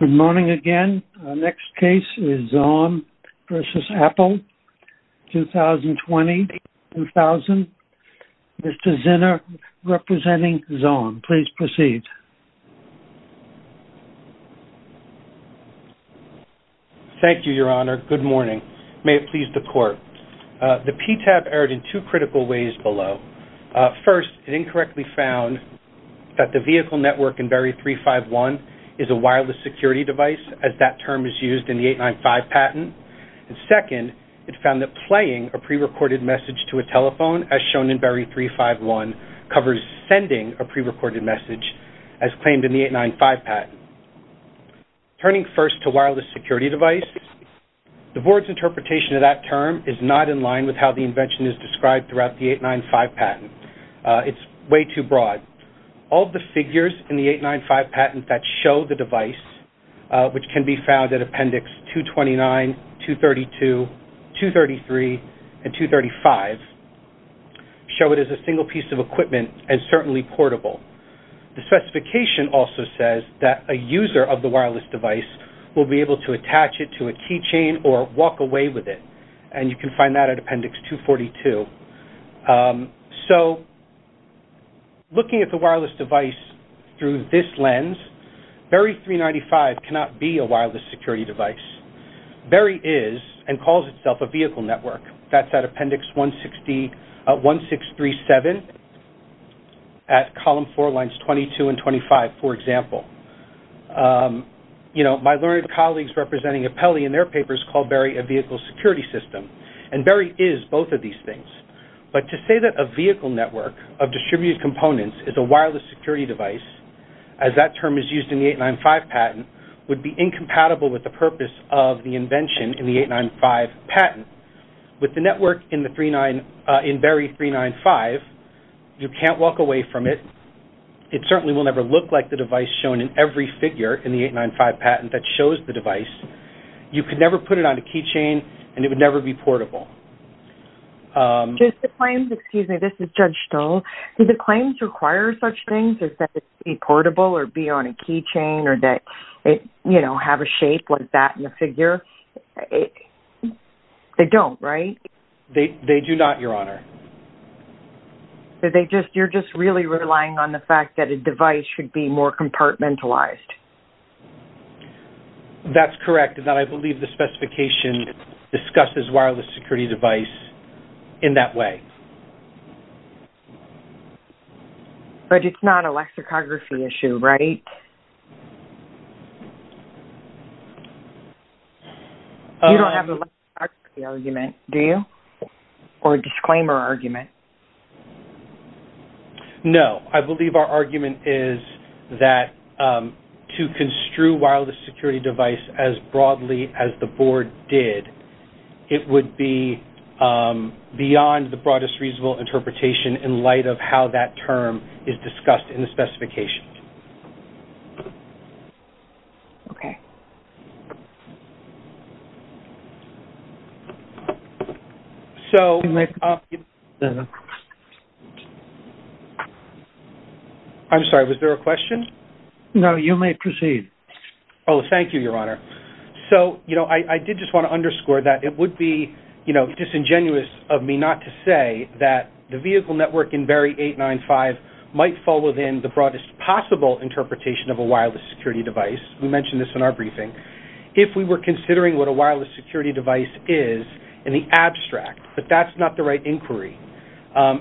Good morning again. Our next case is Zomm v. Apple, 2020-2000. Mr. Zinner, representing Zomm, please proceed. Thank you, Your Honor. Good morning. May it please the Court. The PTAB erred in two critical ways below. First, it incorrectly found that the vehicle network in Berry 351 is a wireless security device, as that term is used in the 895 patent. And second, it found that playing a pre-recorded message to a telephone, as shown in Berry 351, covers sending a pre-recorded message, as claimed in the 895 patent. Turning first to wireless security device, the Board's interpretation of that term is not in line with how the invention is described throughout the 895 patent. It's way too broad. All the figures in the 895 patent that show the device, which can be found at Appendix 229, 232, 233, and 235, show it as a single piece of equipment and certainly portable. The specification also says that a user of the wireless device will be able to attach it to a So, looking at the wireless device through this lens, Berry 395 cannot be a wireless security device. Berry is, and calls itself, a vehicle network. That's at Appendix 1637, at column four lines 22 and 25, for example. You know, my learned colleagues representing Apelli in their papers called Berry a vehicle security system, and Berry is both of these things. But to say that a vehicle network of distributed components is a wireless security device, as that term is used in the 895 patent, would be incompatible with the purpose of the invention in the 895 patent. With the network in Berry 395, you can't walk away from it. It certainly will never look like the device shown in every figure in the 895 patent that shows the device. You could never put it on a keychain, and it would never be portable. Excuse me, this is Judge Stoll. Do the claims require such things as that it be portable or be on a keychain, or that it, you know, have a shape like that in the figure? They don't, right? They do not, Your Honor. So, you're just really relying on the fact that a device should be more compartmentalized? That's correct, and that I believe the specification discusses wireless security device in that way. But it's not a lexicography issue, right? You don't have a lexicography argument, do you? Or a disclaimer argument? No, I believe our argument is that to construe wireless security device as broadly as the Board did, it would be beyond the broadest reasonable interpretation in light of how that term is discussed in the specification. Okay. So, I'm sorry, was there a question? No, you may proceed. Oh, thank you, Your Honor. So, you know, I did just want to underscore that it would be, you know, disingenuous of me not to say that the vehicle network in Barry 351 is the broadest possible interpretation of a wireless security device. We mentioned this in our briefing. If we were considering what a wireless security device is in the abstract, but that's not the right inquiry.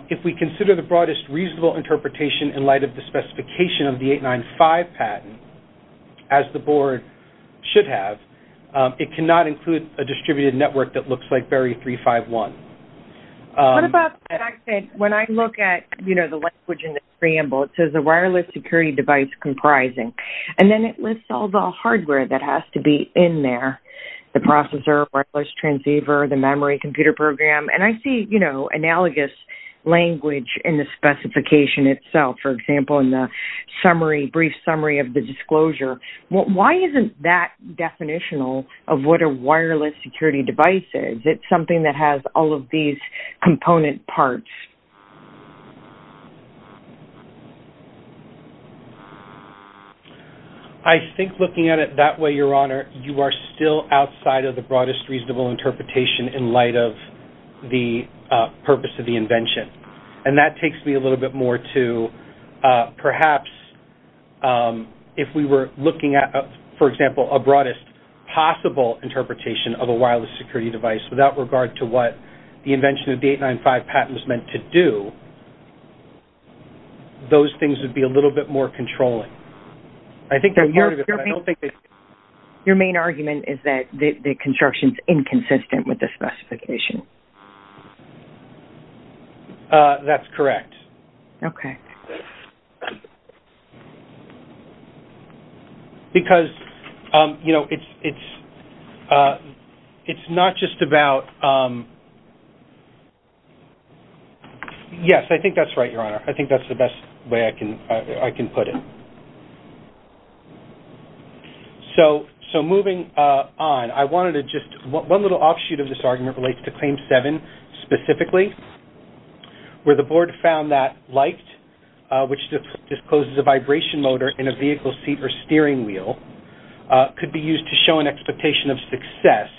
If we consider the broadest reasonable interpretation in light of the specification of the 895 patent, as the Board should have, it cannot include a distributed network that looks like Barry 351. What about when I look at, you know, the language in the preamble, it says a wireless security device comprising, and then it lists all the hardware that has to be in there, the processor, wireless transceiver, the memory computer program, and I see, you know, analogous language in the specification itself. For example, in the brief summary of the disclosure, why isn't that definitional of what a wireless security device is? Is it something that has all of these component parts? I think looking at it that way, Your Honor, you are still outside of the broadest reasonable interpretation in light of the purpose of the invention. And that takes me a little bit more to perhaps if we were looking at, for example, a broadest possible interpretation of a wireless security device without regard to what the invention of the 895 patent was meant to do, those things would be a little bit more controlling. Your main argument is that the construction is inconsistent with the specification. That's correct. Okay. Because, you know, it's not just about... Yes, I think that's right, Your Honor. I think that's the best way I can put it. So, moving on, I wanted to just... One little offshoot of this argument relates to Claim 7 specifically, where the board found that light, which discloses a vibration motor in a vehicle seat or steering wheel, could be used to show an expectation of success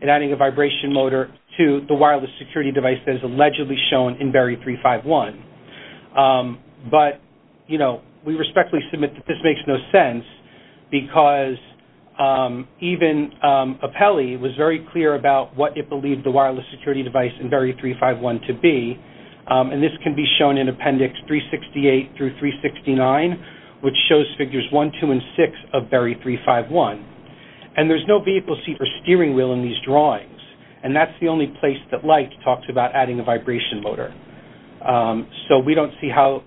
in adding a vibration motor to the wireless security device that is allegedly shown in Berry 351. But, you know, we respectfully submit that this makes no sense because even Apelli was very clear about what it believed the wireless security device in Berry 351 to be, and this can be shown in Appendix 368 through 369, which shows Figures 1, 2, and 6 of Berry 351. And there's no vehicle seat or steering wheel in these drawings, and that's the only place that light talks about adding a vibration motor. So we don't see how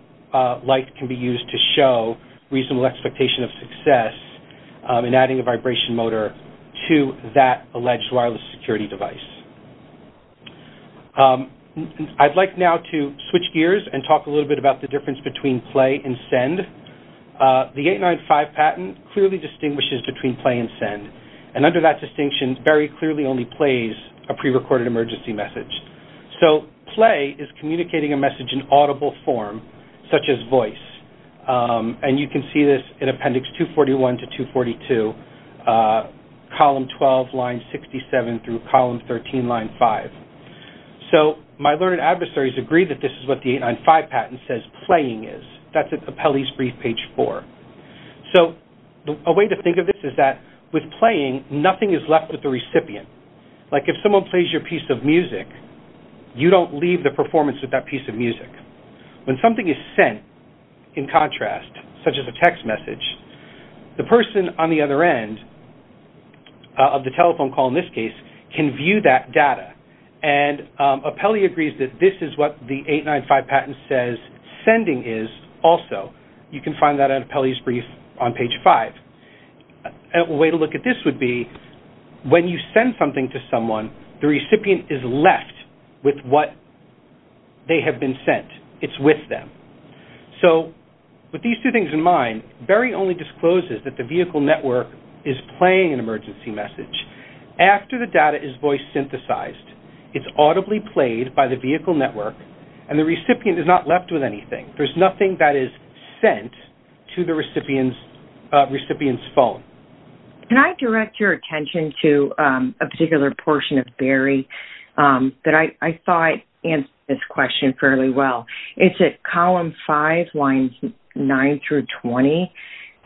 light can be used to show reasonable expectation of success in adding a vibration motor to that alleged wireless security device. I'd like now to switch gears and talk a little bit about the difference between Play and Send. The 895 patent clearly distinguishes between Play and Send, and under that distinction, Berry clearly only plays a prerecorded emergency message. So Play is communicating a message in audible form, such as voice, and you can see this in Appendix 241 to 242, Column 12, Line 67 through Column 13, Line 5. So my learned adversaries agree that this is what the 895 patent says Playing is. That's at Apelli's brief, Page 4. So a way to think of this is that with Playing, nothing is left with the recipient. Like if someone plays your piece of music, you don't leave the performance with that piece of music. When something is sent, in contrast, such as a text message, the person on the other end of the telephone call, in this case, can view that data. And Apelli agrees that this is what the 895 patent says Sending is also. You can find that at Apelli's brief on Page 5. A way to look at this would be when you send something to someone, the recipient is left with what they have been sent. It's with them. So with these two things in mind, Berry only discloses that the vehicle network is playing an emergency message. After the data is voice synthesized, it's audibly played by the vehicle network, and the recipient is not left with anything. There's nothing that is sent to the recipient's phone. Can I direct your attention to a particular portion of Berry? I thought I answered this question fairly well. It's at column 5, lines 9 through 20.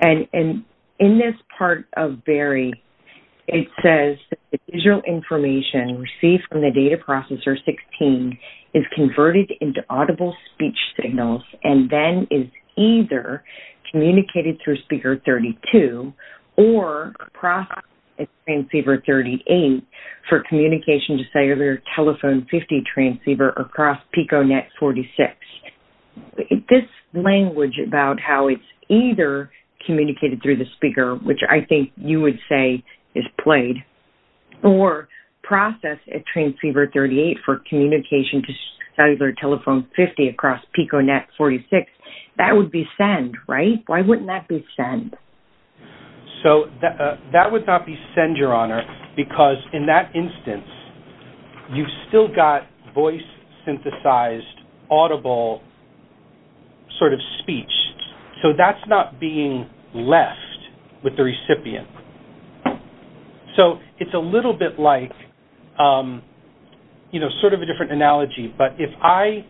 In this part of Berry, it says, the visual information received from the data processor 16 is converted into audible speech signals and then is either communicated through Speaker 32 or processed at Transceiver 38 for communication to Cellular Telephone 50 Transceiver across PicoNet 46. This language about how it's either communicated through the speaker, which I think you would say is played, or processed at Transceiver 38 for communication to Cellular Telephone 50 across PicoNet 46. That would be send, right? Why wouldn't that be send? That would not be send, Your Honor, because in that instance, you've still got voice-synthesized, audible sort of speech. So that's not being left with the recipient. So it's a little bit like sort of a different analogy, but if I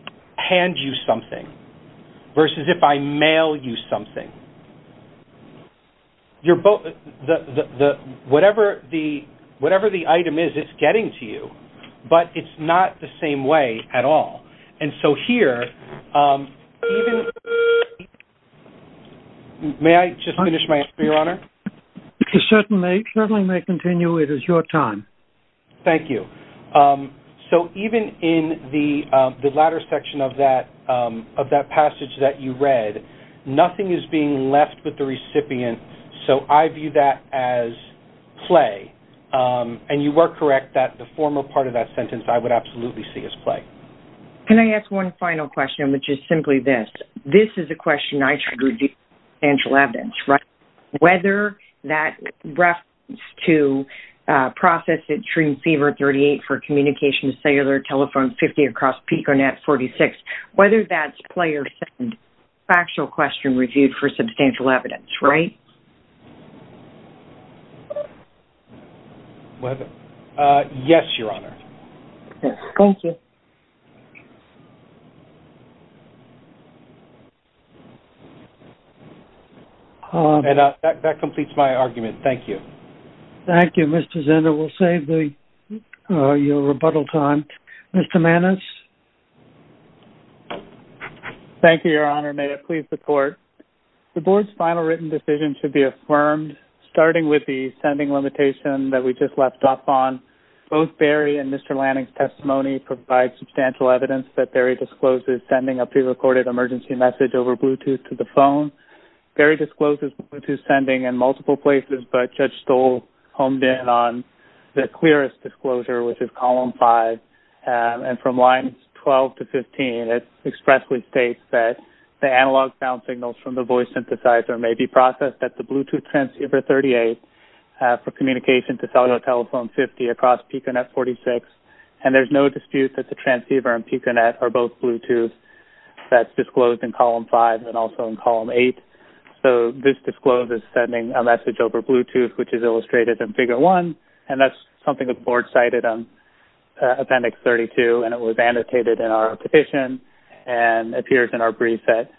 hand you something versus if I mail you something, whatever the item is, it's getting to you, but it's not the same way at all. And so here, even... May I just finish my answer, Your Honor? You certainly may continue. It is your time. Thank you. So even in the latter section of that passage that you read, nothing is being left with the recipient, so I view that as play. And you are correct that the former part of that sentence, I would absolutely see as play. Can I ask one final question, which is simply this? This is a question I should review for substantial evidence, right? Whether that reference to process at Trim Fever 38 for communication to cellular telephone 50 across PicoNet 46, whether that's play or send, factual question reviewed for substantial evidence, right? Yes, Your Honor. Thank you. Thank you. And that completes my argument. Thank you. Thank you, Mr. Zender. We'll save your rebuttal time. Mr. Mannes? Thank you, Your Honor. May it please the Court. The Board's final written decision should be affirmed, starting with the sending limitation that we just left off on. Both Barry and Mr. Lanning's testimony provide substantial evidence that Barry discloses sending a prerecorded emergency message over Bluetooth to the phone. Barry discloses Bluetooth sending in multiple places, but Judge Stoll honed in on the clearest disclosure, which is column 5. And from lines 12 to 15, it expressly states that the analog sound signals from the voice synthesizer may be processed at the Bluetooth transceiver 38 for communication to cellular telephone 50 across PicoNet 46. And there's no dispute that the transceiver and PicoNet are both Bluetooth. That's disclosed in column 5 and also in column 8. So this disclose is sending a message over Bluetooth, which is illustrated in figure 1, and that's something the Board cited on Appendix 32, and it was annotated in our petition and appears in our brief at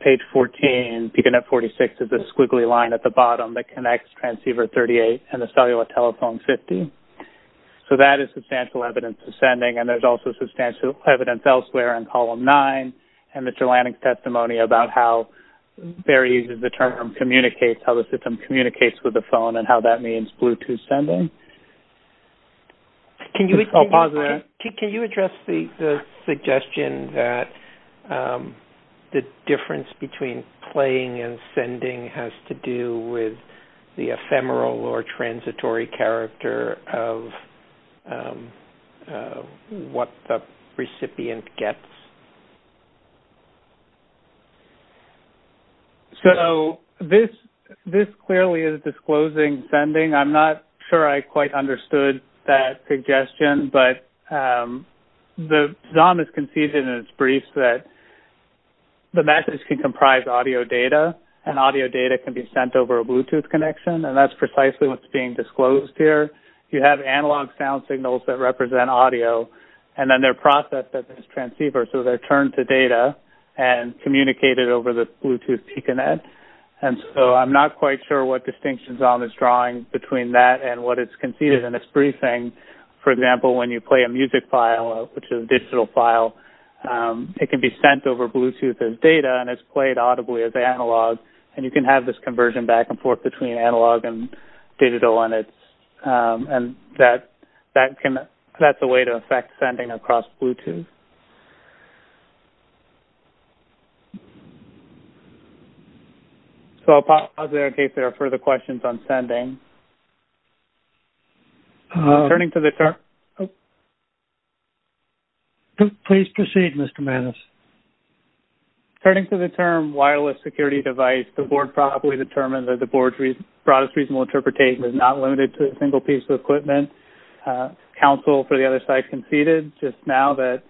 page 14. PicoNet 46 is the squiggly line at the bottom that connects transceiver 38 and the cellular telephone 50. So that is substantial evidence of sending, and there's also substantial evidence elsewhere in column 9 and Mr. Lanning's testimony about how Barry uses the term communicates, how the system communicates with the phone and how that means Bluetooth sending. I'll pause there. Can you address the suggestion that the difference between playing and sending has to do with the ephemeral or transitory character of what the recipient gets? So this clearly is disclosing sending. I'm not sure I quite understood that suggestion, but the ZOM is conceded in its brief that the message can comprise audio data, and audio data can be sent over a Bluetooth connection, and that's precisely what's being disclosed here. You have analog sound signals that represent audio, and then they're processed at this transceiver, so they're turned to data and communicated over the Bluetooth PicoNet, and so I'm not quite sure what distinction ZOM is drawing between that and what it's conceded in its briefing. For example, when you play a music file, which is a digital file, it can be sent over Bluetooth as data, and it's played audibly as analog, and you can have this conversion back and forth between analog and digital, and that's a way to affect sending across Bluetooth. So I'll pause there in case there are further questions on sending. Turning to the term... Please proceed, Mr. Mannes. Turning to the term wireless security device, the board properly determined that the board's broadest reasonable interpretation is not limited to a single piece of equipment. Counsel for the other side conceded just now that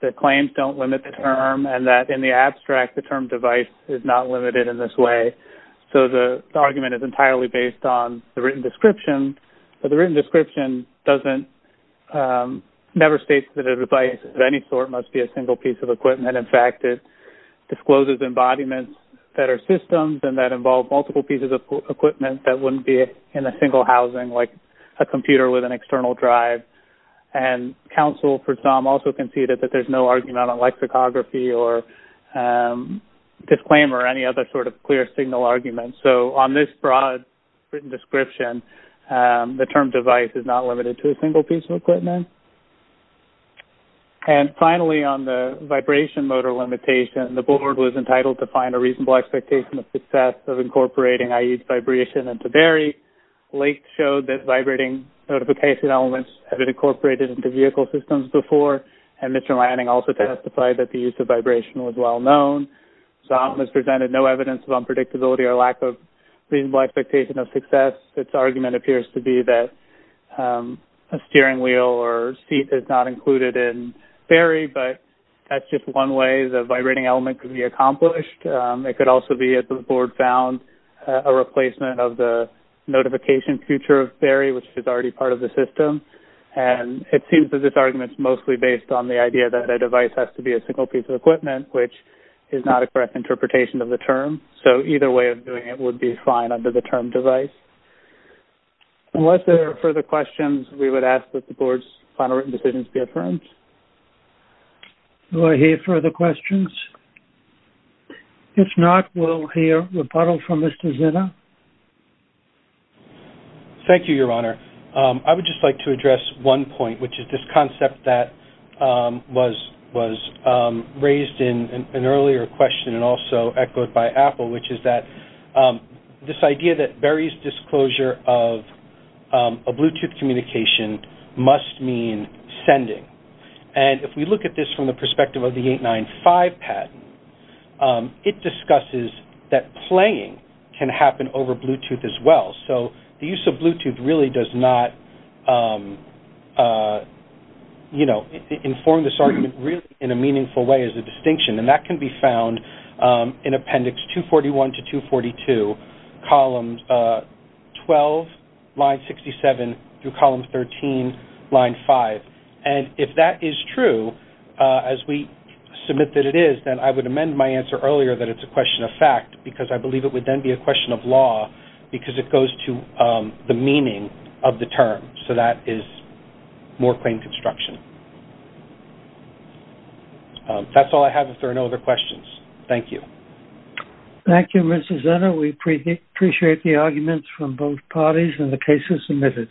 the claims don't limit the term, and that in the abstract the term device is not limited in this way. So the argument is entirely based on the written description, but the written description never states that a device of any sort must be a single piece of equipment. In fact, it discloses embodiments that are systems and that involve multiple pieces of equipment that wouldn't be in a single housing, like a computer with an external drive. And counsel for ZOM also conceded that there's no argument on lexicography or disclaimer or any other sort of clear signal argument. So on this broad written description, the term device is not limited to a single piece of equipment. And finally, on the vibration motor limitation, the board was entitled to find a reasonable expectation of success of incorporating i.e. vibration and to very late show that vibrating notification elements have been incorporated into vehicle systems before. And Mr. Lanning also testified that the use of vibration was well known. ZOM has presented no evidence of unpredictability or lack of reasonable expectation of success. Its argument appears to be that a steering wheel or seat is not included in FAERI, but that's just one way the vibrating element could be accomplished. It could also be that the board found a replacement of the notification feature of FAERI, which is already part of the system. And it seems that this argument is mostly based on the idea that a device has to be a single piece of equipment, which is not a correct interpretation of the term. So either way of doing it would be fine under the term device. Unless there are further questions, we would ask that the board's final written decisions be affirmed. Do I hear further questions? If not, we'll hear a rebuttal from Mr. Zinner. Thank you, Your Honor. I would just like to address one point, which is this concept that was raised in an earlier question and also echoed by Apple, which is that this idea that FAERI's disclosure of a Bluetooth communication must mean sending. And if we look at this from the perspective of the 895 patent, it discusses that playing can happen over Bluetooth as well. So the use of Bluetooth really does not inform this argument really in a meaningful way as a distinction. And that can be found in Appendix 241 to 242, columns 12, line 67, through column 13, line 5. And if that is true, as we submit that it is, then I would amend my answer earlier that it's a question of fact, because I believe it would then be a question of law because it goes to the meaning of the term. So that is more plain construction. That's all I have if there are no other questions. Thank you. Thank you, Mr. Zinner. We appreciate the arguments from both parties and the cases submitted.